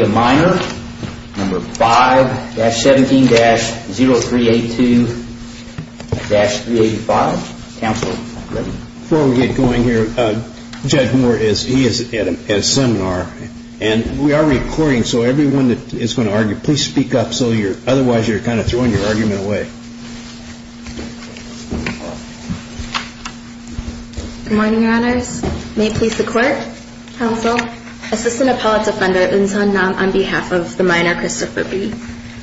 of minor, number 5-17-0382-385, counsel, ready. Before we get going here, Judge Moore is, he is at a seminar, and we are recording so everyone that is going to argue, please speak up so you're, otherwise you're kind of throwing your argument away. Good morning, Your Honors. May it please the Court, counsel. Assistant Appellate Defender Eun Sun Nam on behalf of the minor, Christopher B.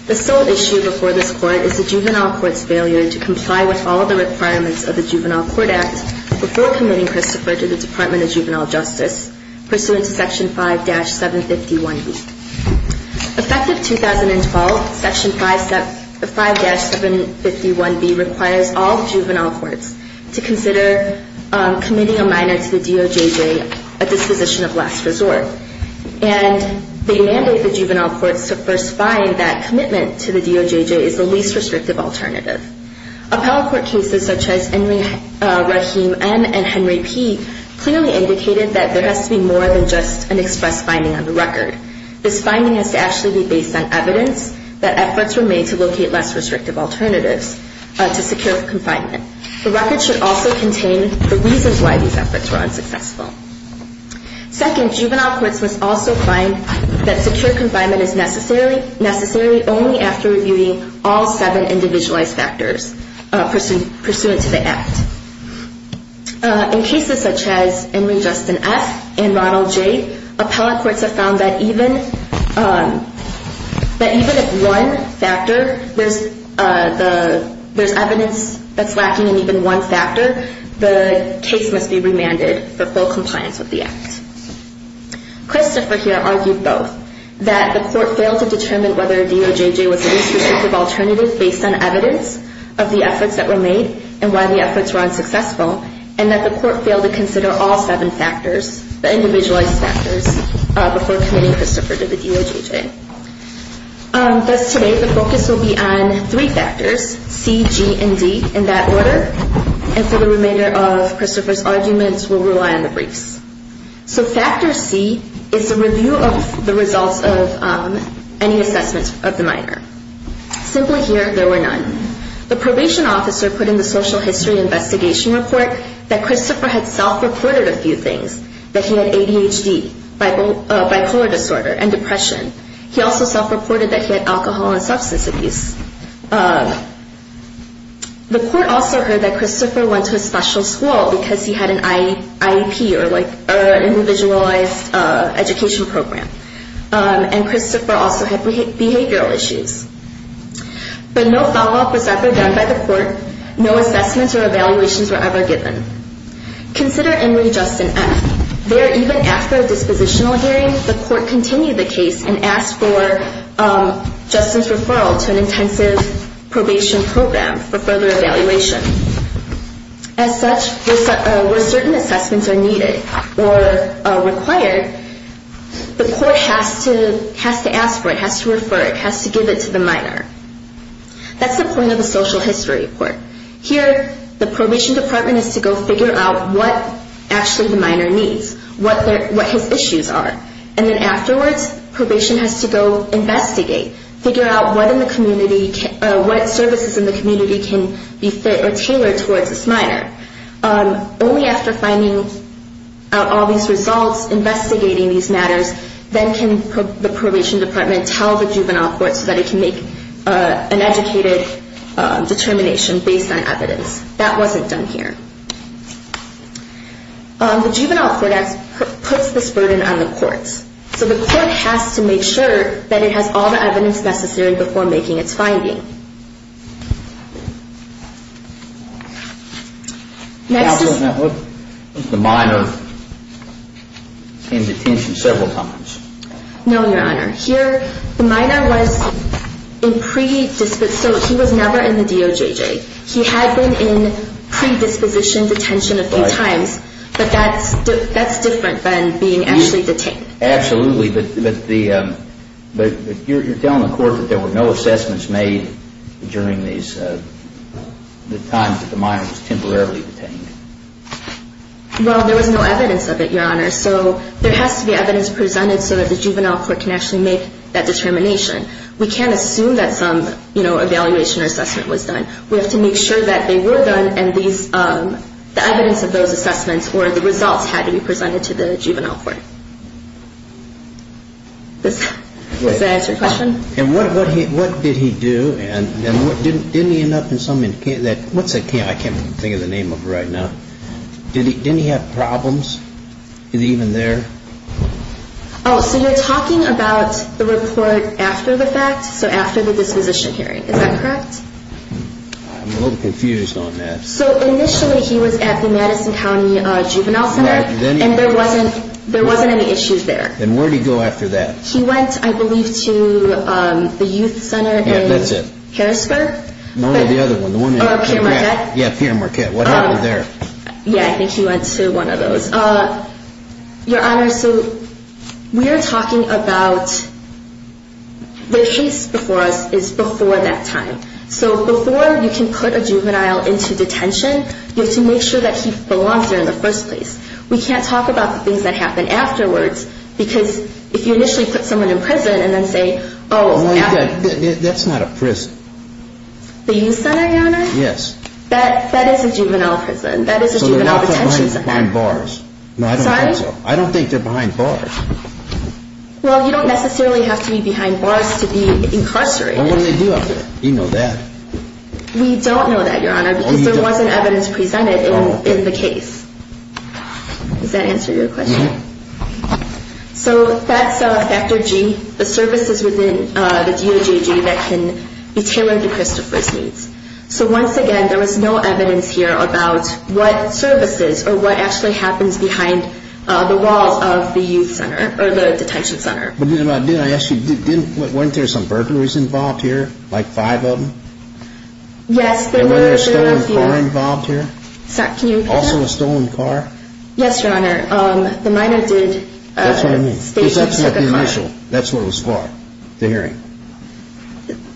The sole issue before this Court is the Juvenile Court's failure to comply with all of the requirements of the Juvenile Court Act before committing Christopher to the Department of Juvenile Justice pursuant to Section 5-751B. Effective 2012, Section 5-751B requires all Juvenile Courts to consider committing a minor to the DOJJ at disposition of last resort. And they mandate the Juvenile Courts to first find that commitment to the DOJJ is the least restrictive alternative. Appellate Court cases such as Henry Rahim M. and Henry P. clearly indicated that there has to be more than just an express finding on the record. This finding has to actually be based on evidence that efforts were made to locate less restrictive alternatives to secure confinement. The record should also contain the reasons why these efforts were unsuccessful. Second, Juvenile Courts must also find that secure confinement is necessary only after reviewing all seven individualized factors pursuant to the Act. In cases such as Henry Justin F. and Ronald J., Appellate Courts have found that even if one factor, there's evidence that's lacking in even one factor, the case must be remanded for full compliance with the Act. Christopher here argued both, that the Court failed to determine whether a DOJJ was the least restrictive alternative based on evidence of the efforts that were made and why the efforts were unsuccessful, and that the Court failed to consider all seven factors, the individualized factors, before committing Christopher to the DOJJ. Thus today, the focus will be on three factors, C, G, and D, in that order, and for the remainder of Christopher's arguments, we'll rely on the briefs. So Factor C is the review of the results of any assessments of the minor. Simply here, there were none. The probation officer put in the Social History Investigation Report that Christopher had self-reported a few things, that he had ADHD, bipolar disorder, and depression. He also self-reported that he had alcohol and substance abuse. The Court also heard that Christopher went to a special school because he had an IEP, or an Individualized Education Program, and Christopher also had behavioral issues. But no follow-up was ever done by the Court. No assessments or evaluations were ever given. Consider Emily Justin F. There, even after a dispositional hearing, the Court continued the case and asked for Justin's referral to an intensive probation program for further evaluation. As such, where certain assessments are needed or required, the Court has to ask for it, has to refer it, has to give it to the minor. That's the point of the Social History Report. Here, the probation department has to go figure out what actually the minor needs, what his issues are. And then afterwards, probation has to go investigate, figure out what services in the community can be fit or tailored towards this minor. Only after finding out all these results, investigating these matters, then can the probation department tell the Juvenile Court so that it can make an educated determination based on evidence. That wasn't done here. The Juvenile Court puts this burden on the courts. So the court has to make sure that it has all the evidence necessary before making its finding. Counsel, has the minor been in detention several times? No, Your Honor. Here, the minor was in predisposition. So he was never in the DOJJ. He had been in predisposition detention a few times, but that's different than being actually detained. Absolutely. But you're telling the court that there were no assessments made during the times that the minor was temporarily detained? Well, there was no evidence of it, Your Honor. So there has to be evidence presented so that the Juvenile Court can actually make that determination. We can't assume that some evaluation or assessment was done. We have to make sure that they were done and the evidence of those Does that answer your question? And what did he do? And didn't he end up in some, what's that, I can't think of the name of it right now. Didn't he have problems? Is he even there? Oh, so you're talking about the report after the fact? So after the disposition hearing. Is that correct? I'm a little confused on that. So initially he was at the Madison County Juvenile Center and there wasn't any issues there. And where did he go after that? He went, I believe, to the Youth Center in Harrisburg? No, the other one. Pierre Marquette? Yeah, Pierre Marquette. What happened there? Yeah, I think he went to one of those. Your Honor, so we are talking about the case before that time. So before you can put a juvenile into detention, you have to make sure that he belongs there in the first place. We can't talk about the things that happened afterwards because if you initially put someone in prison and then say, oh, after That's not a prison. The Youth Center, Your Honor? Yes. That is a juvenile prison. That is a juvenile detention center. So they're not behind bars. Sorry? I don't think they're behind bars. Well, you don't necessarily have to be behind bars to be incarcerated. Well, what do they do after that? You know that. We don't know that, Your Honor, because there wasn't evidence presented in the case. Does that answer your question? Mm-hmm. So that's Factor G, the services within the DOJG that can be tailored to Christopher's needs. So once again, there was no evidence here about what services or what actually happens behind the walls of the Youth Center or the detention center. But didn't I ask you, weren't there some burglaries involved here, like five of them? Yes, there were. And were there stolen cars involved here? Sorry, can you repeat that? Also a stolen car? Yes, Your Honor. The minor did state he took a car. That's what I mean. Because that's not the initial. That's what it was for, the hearing.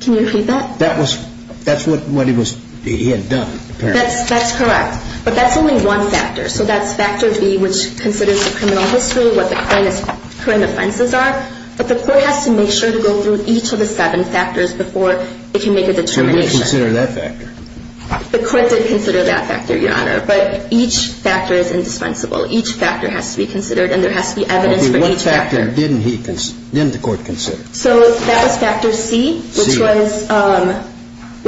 Can you repeat that? That's what he had done, apparently. That's correct. But that's only one factor. So that's Factor B, which considers the criminal history, what the current offenses are. But the court has to make sure to go through each of the seven factors before it can make a determination. So who would consider that factor? The court did consider that factor, Your Honor. But each factor is indispensable. Each factor has to be considered, and there has to be evidence for each factor. Okay, what factor didn't the court consider? So that was Factor C, which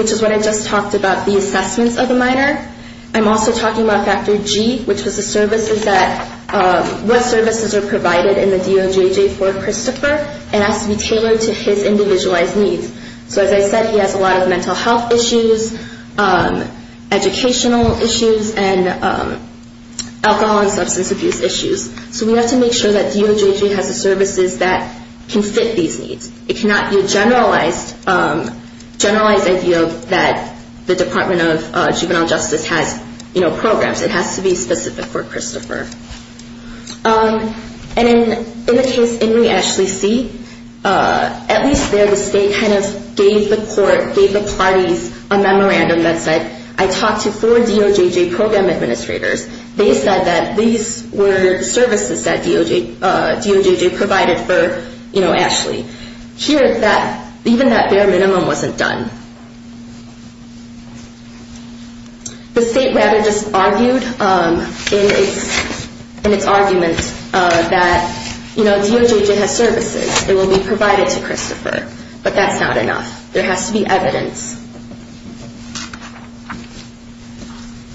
is what I just talked about, the assessments of the minor. I'm also talking about Factor G, which was what services are provided in the DOJJ for Christopher and has to be tailored to his individualized needs. So as I said, he has a lot of mental health issues, educational issues, and alcohol and substance abuse issues. So we have to make sure that DOJJ has the services that can fit these needs. It cannot be a generalized idea that the Department of Juvenile Justice has programs. It has to be specific for Christopher. And in the case In re Ashley C, at least there the state kind of gave the court, gave the parties, a memorandum that said, I talked to four DOJJ program administrators. They said that these were services that DOJJ provided for Ashley. Here, even that bare minimum wasn't done. The state rather just argued in its argument that DOJJ has services. It will be provided to Christopher. But that's not enough. There has to be evidence.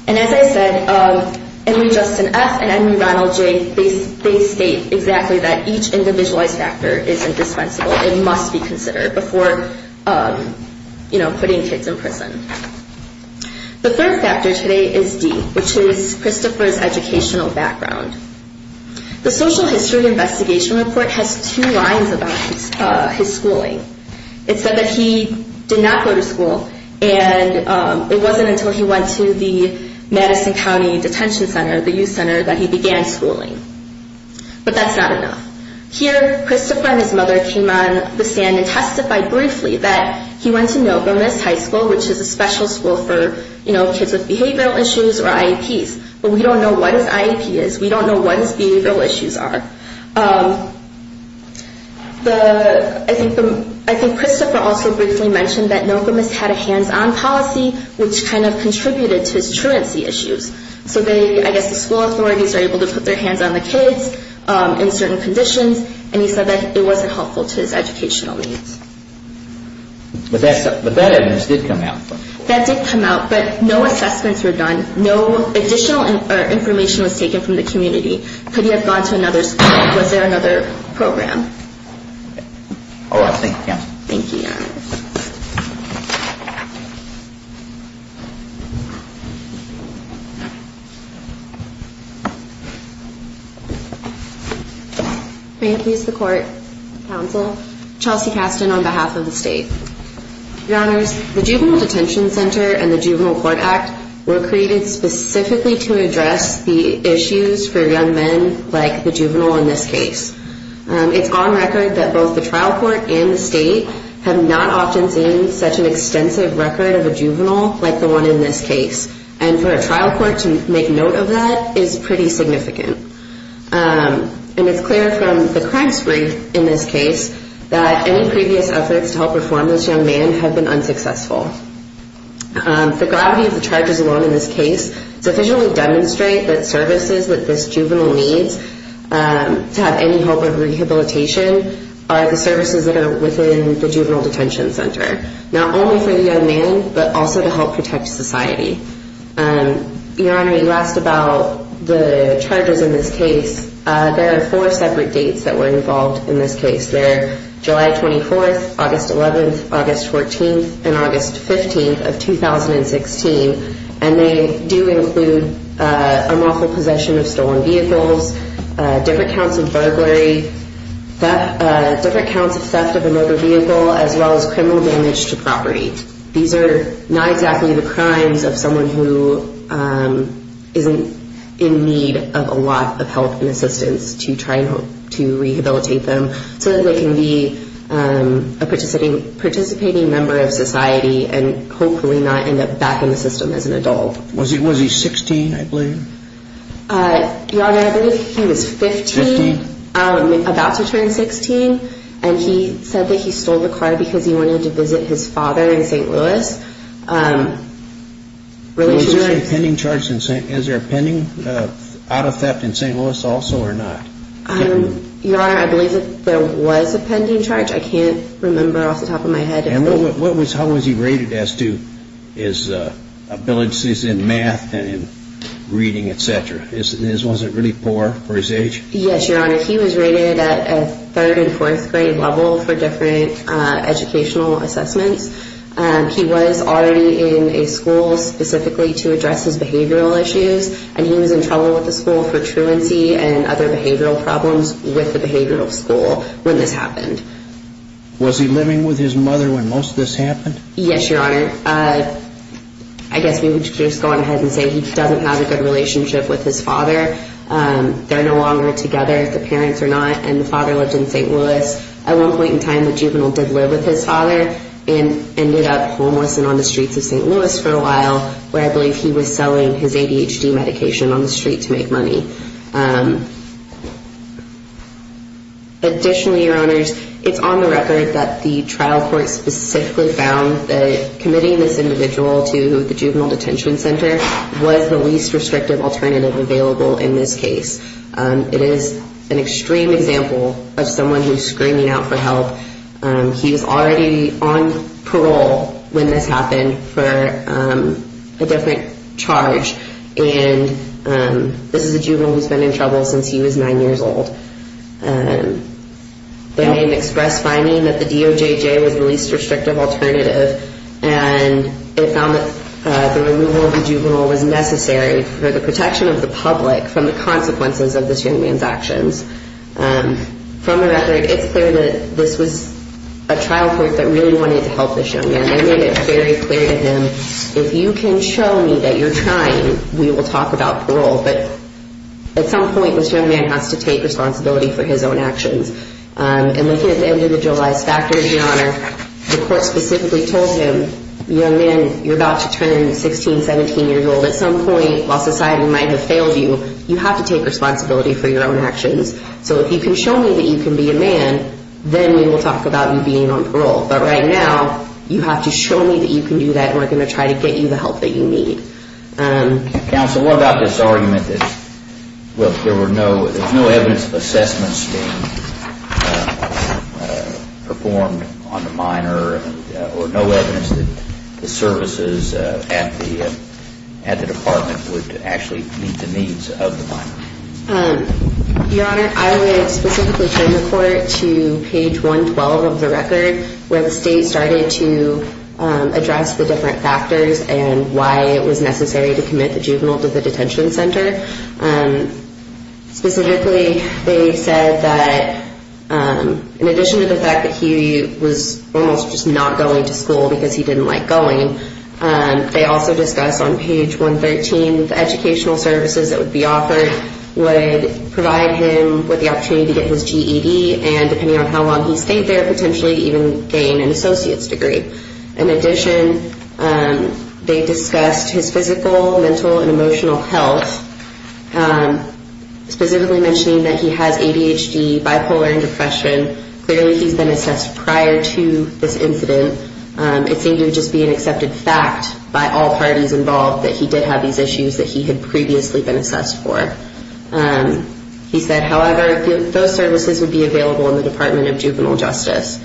And as I said, Emily Justin F and Emily Ronald J, they state exactly that each individualized factor is indispensable. It must be considered before, you know, putting kids in prison. The third factor today is D, which is Christopher's educational background. The social history investigation report has two lines about his schooling. It said that he did not go to school, and it wasn't until he went to the Madison County Detention Center, the youth center, that he began schooling. But that's not enough. Here, Christopher and his mother came on the stand and testified briefly that he went to Nova Miss High School, which is a special school for, you know, kids with behavioral issues or IEPs. But we don't know what his IEP is. We don't know what his behavioral issues are. I think Christopher also briefly mentioned that Nova Miss had a hands-on policy, which kind of contributed to his truancy issues. So I guess the school authorities are able to put their hands on the kids in certain conditions, and he said that it wasn't helpful to his educational needs. But that evidence did come out. That did come out, but no assessments were done. No additional information was taken from the community. Could he have gone to another school? Was there another program? All right. Thank you, counsel. Thank you, Your Honor. Frankie is the court counsel. Chelsea Caston on behalf of the state. Your Honors, the Juvenile Detention Center and the Juvenile Court Act were created specifically to address the issues for young men like the juvenile in this case. It's on record that both the trial court and the state have not often seen such an extensive record of a juvenile like the one in this case. And for a trial court to make note of that is pretty significant. And it's clear from the crime spree in this case that any previous efforts to help reform this young man have been unsuccessful. The gravity of the charges alone in this case sufficiently demonstrate that services that this juvenile needs to have any hope of rehabilitation are the services that are within the Juvenile Detention Center. Not only for the young man, but also to help protect society. Your Honor, you asked about the charges in this case. There are four separate dates that were involved in this case. They're July 24th, August 11th, August 14th, and August 15th of 2016. And they do include unlawful possession of stolen vehicles, different counts of burglary, different counts of theft of a motor vehicle, as well as criminal damage to property. These are not exactly the crimes of someone who isn't in need of a lot of help and assistance to try to rehabilitate them. So that they can be a participating member of society and hopefully not end up back in the system as an adult. Was he 16, I believe? Your Honor, I believe he was 15. About to turn 16. And he said that he stole the car because he wanted to visit his father in St. Louis. Is there a pending charge in St. Louis? Is there a pending out of theft in St. Louis also or not? Your Honor, I believe that there was a pending charge. I can't remember off the top of my head. How was he rated as to his abilities in math and in reading, et cetera? Was it really poor for his age? Yes, Your Honor. He was rated at a third and fourth grade level for different educational assessments. He was already in a school specifically to address his behavioral issues. And he was in trouble with the school for truancy and other behavioral problems with the behavioral school when this happened. Was he living with his mother when most of this happened? Yes, Your Honor. I guess we would just go ahead and say he doesn't have a good relationship with his father. They're no longer together, the parents are not, and the father lived in St. Louis. At one point in time, the juvenile did live with his father and ended up homeless and on the streets of St. Louis for a while where I believe he was selling his ADHD medication on the street to make money. Additionally, Your Honors, it's on the record that the trial court specifically found that committing this individual to the juvenile detention center was the least restrictive alternative available in this case. It is an extreme example of someone who's screaming out for help. He was already on parole when this happened for a different charge. And this is a juvenile who's been in trouble since he was 9 years old. The name expressed finding that the DOJJ was the least restrictive alternative and it found that the removal of the juvenile was necessary for the protection of the public From the record, it's clear that this was a trial court that really wanted to help this young man. They made it very clear to him, if you can show me that you're trying, we will talk about parole. But at some point, this young man has to take responsibility for his own actions. And looking at the individualized factors, Your Honor, the court specifically told him, young man, you're about to turn 16, 17 years old. At some point, while society might have failed you, you have to take responsibility for your own actions. So if you can show me that you can be a man, then we will talk about you being on parole. But right now, you have to show me that you can do that and we're going to try to get you the help that you need. Counsel, what about this argument that there's no evidence of assessments being performed on the minor or no evidence that the services at the department would actually meet the needs of the minor? Your Honor, I would specifically turn the court to page 112 of the record, where the state started to address the different factors and why it was necessary to commit the juvenile to the detention center. Specifically, they said that in addition to the fact that he was almost just not going to school because he didn't like going, they also discussed on page 113, the educational services that would be offered would provide him with the opportunity to get his GED and depending on how long he stayed there, potentially even gain an associate's degree. In addition, they discussed his physical, mental, and emotional health, specifically mentioning that he has ADHD, bipolar, and depression. Clearly, he's been assessed prior to this incident. It seemed to just be an accepted fact by all parties involved that he did have these issues that he had previously been assessed for. He said, however, those services would be available in the Department of Juvenile Justice.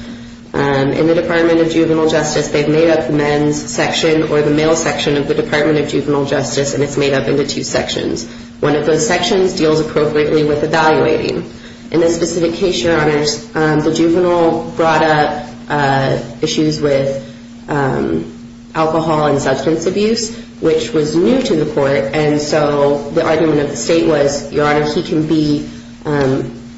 In the Department of Juvenile Justice, they've made up the men's section or the male section of the Department of Juvenile Justice, and it's made up into two sections. One of those sections deals appropriately with evaluating. In this specific case, Your Honor, the juvenile brought up issues with alcohol and substance abuse, which was new to the court, and so the argument of the state was, Your Honor, he can be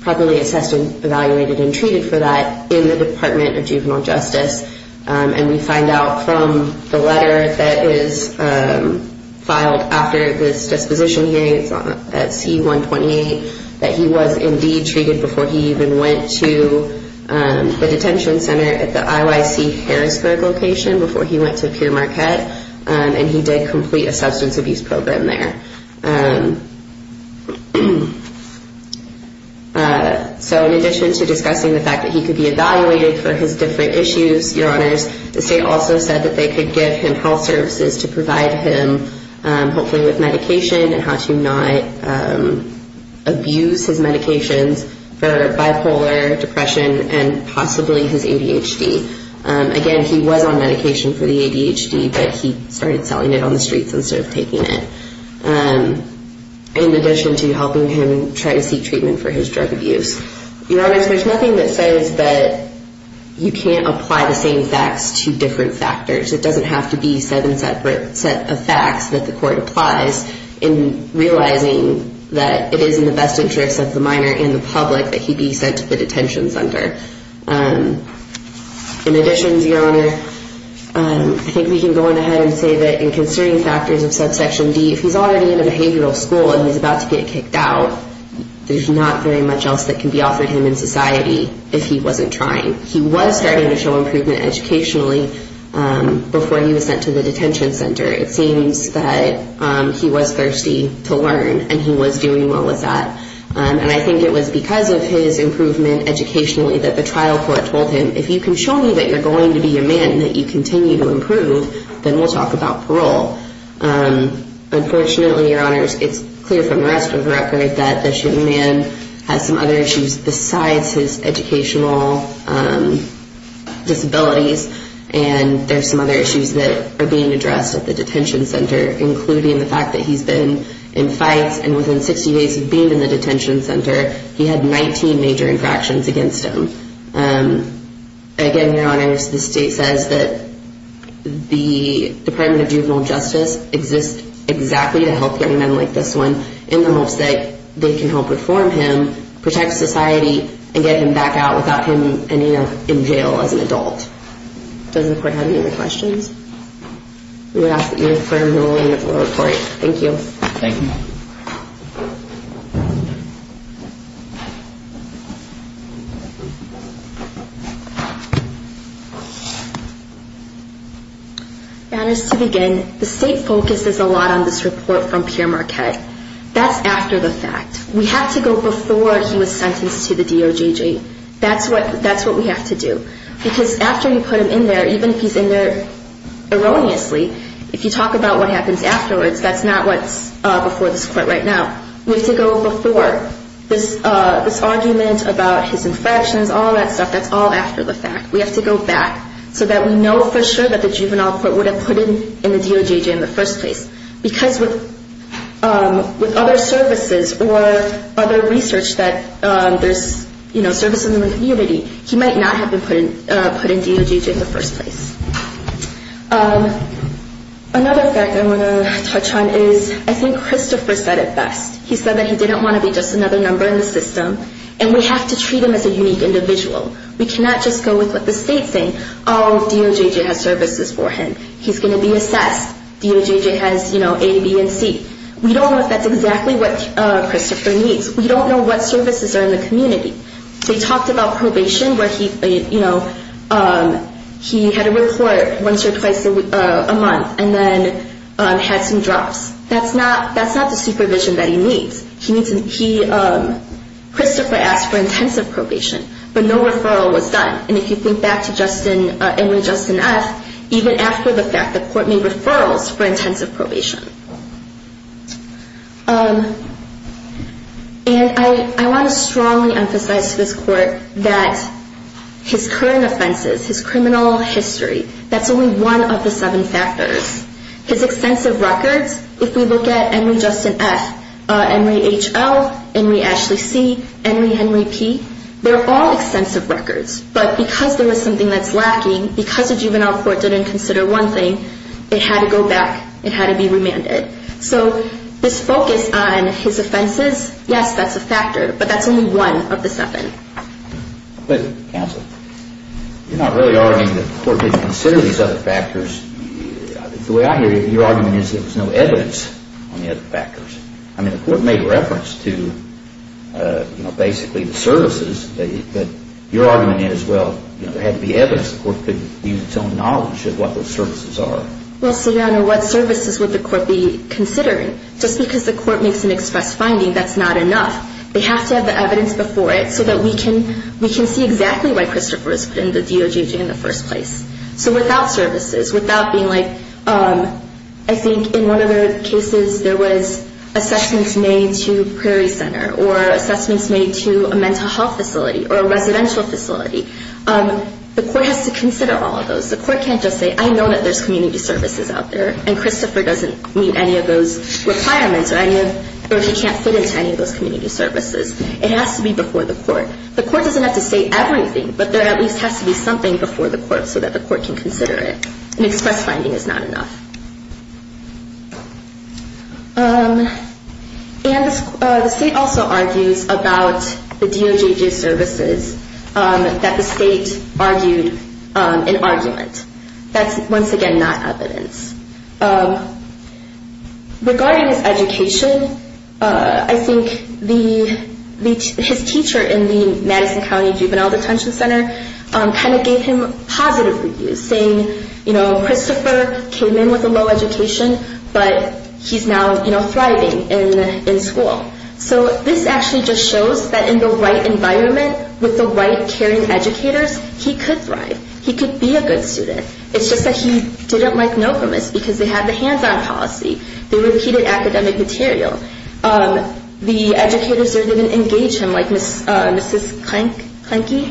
properly assessed and evaluated and treated for that in the Department of Juvenile Justice, and we find out from the letter that is filed after this disposition hearing at C-128 that he was indeed treated before he even went to the detention center at the IYC Harrisburg location before he went to Pierre Marquette, and he did complete a substance abuse program there. So in addition to discussing the fact that he could be evaluated for his different issues, Your Honors, the state also said that they could give him health services to provide him hopefully with medication and how to not abuse his medications for bipolar, depression, and possibly his ADHD. Again, he was on medication for the ADHD, but he started selling it on the streets instead of taking it. In addition to helping him try to seek treatment for his drug abuse. Your Honors, there's nothing that says that you can't apply the same facts to different factors. It doesn't have to be seven separate set of facts that the court applies in realizing that it is in the best interest of the minor and the public that he be sent to the detention center. In addition, Your Honor, I think we can go on ahead and say that in concerning factors of subsection D, if he's already in a behavioral school and he's about to get kicked out, there's not very much else that can be offered him in society if he wasn't trying. He was starting to show improvement educationally before he was sent to the detention center. It seems that he was thirsty to learn, and he was doing well with that. And I think it was because of his improvement educationally that the trial court told him, if you can show me that you're going to be a man and that you continue to improve, then we'll talk about parole. Unfortunately, Your Honors, it's clear from the rest of the record that this young man has some other issues besides his educational disabilities, and there's some other issues that are being addressed at the detention center, including the fact that he's been in fights, and within 60 days of being in the detention center, he had 19 major infractions against him. Again, Your Honors, the state says that the Department of Juvenile Justice exists exactly to help young men like this one in the hopes that they can help reform him, protect society, and get him back out without him ending up in jail as an adult. Does the court have any other questions? We would ask that you confirm the ruling of the court. Thank you. Thank you. Your Honors, to begin, the state focuses a lot on this report from Pierre Marquet. That's after the fact. We have to go before he was sentenced to the DOJ jail. That's what we have to do. Because after you put him in there, even if he's in there erroneously, if you talk about what happens afterwards, that's not what's before this court right now. We have to go before. This argument about his infractions, all that stuff, that's all after the fact. We have to go back so that we know for sure that the juvenile court would have put him in the DOJ jail in the first place. Because with other services or other research that there's services in the community, he might not have been put in DOJ jail in the first place. Another fact I want to touch on is I think Christopher said it best. He said that he didn't want to be just another number in the system, and we have to treat him as a unique individual. We cannot just go with what the states say. Oh, DOJ jail has services for him. He's going to be assessed. DOJ jail has A, B, and C. We don't know if that's exactly what Christopher needs. We don't know what services are in the community. They talked about probation where he had a report once or twice a month and then had some drops. That's not the supervision that he needs. Christopher asked for intensive probation, but no referral was done. And if you think back to Emory Justin F., even after the fact the court made referrals for intensive probation. And I want to strongly emphasize to this court that his current offenses, his criminal history, that's only one of the seven factors. His extensive records, if we look at Emory Justin F., Emory H.L., Emory Ashley C., Emory Henry P., they're all extensive records. But because there was something that's lacking, because the juvenile court didn't consider one thing, it had to go back, it had to be remanded. So this focus on his offenses, yes, that's a factor, but that's only one of the seven. But counsel, you're not really arguing that the court didn't consider these other factors. The way I hear your argument is there was no evidence on the other factors. I mean, the court made reference to basically the services, but your argument is, well, there had to be evidence. The court could use its own knowledge of what those services are. Well, Your Honor, what services would the court be considering? Just because the court makes an express finding, that's not enough. They have to have the evidence before it so that we can see exactly why Christopher was put in the DOJ in the first place. So without services, without being like, I think in one of the cases, there was assessments made to Prairie Center or assessments made to a mental health facility or a residential facility. The court has to consider all of those. The court can't just say, I know that there's community services out there, and Christopher doesn't meet any of those requirements or he can't fit into any of those community services. It has to be before the court. The court doesn't have to say everything, but there at least has to be something before the court so that the court can consider it. An express finding is not enough. And the state also argues about the DOJG services that the state argued in argument. That's, once again, not evidence. Regarding his education, I think his teacher in the Madison County Juvenile Detention Center kind of gave him positive reviews, saying, you know, Christopher came in with a low education, but he's now thriving in school. So this actually just shows that in the right environment with the right caring educators, he could thrive. He could be a good student. It's just that he didn't like NOPAMIS because they had the hands-on policy. They repeated academic material. The educators there didn't engage him like Mrs. Klenke.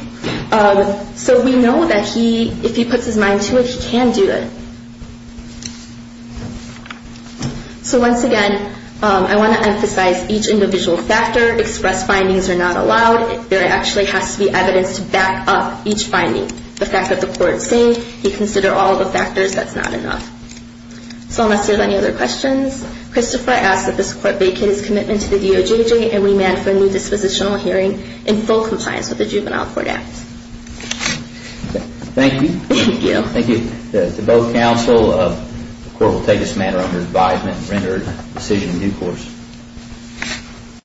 So we know that if he puts his mind to it, he can do it. So once again, I want to emphasize each individual factor. Express findings are not allowed. There actually has to be evidence to back up each finding. The fact that the court is saying he considered all the factors, that's not enough. So unless there are any other questions, Christopher asks that this court vacate his commitment to the DOJG and remand for a new dispositional hearing in full compliance with the Juvenile Court Act. Thank you. Thank you. Thank you to both counsel. The court will take this matter under advisement and render a decision in due course.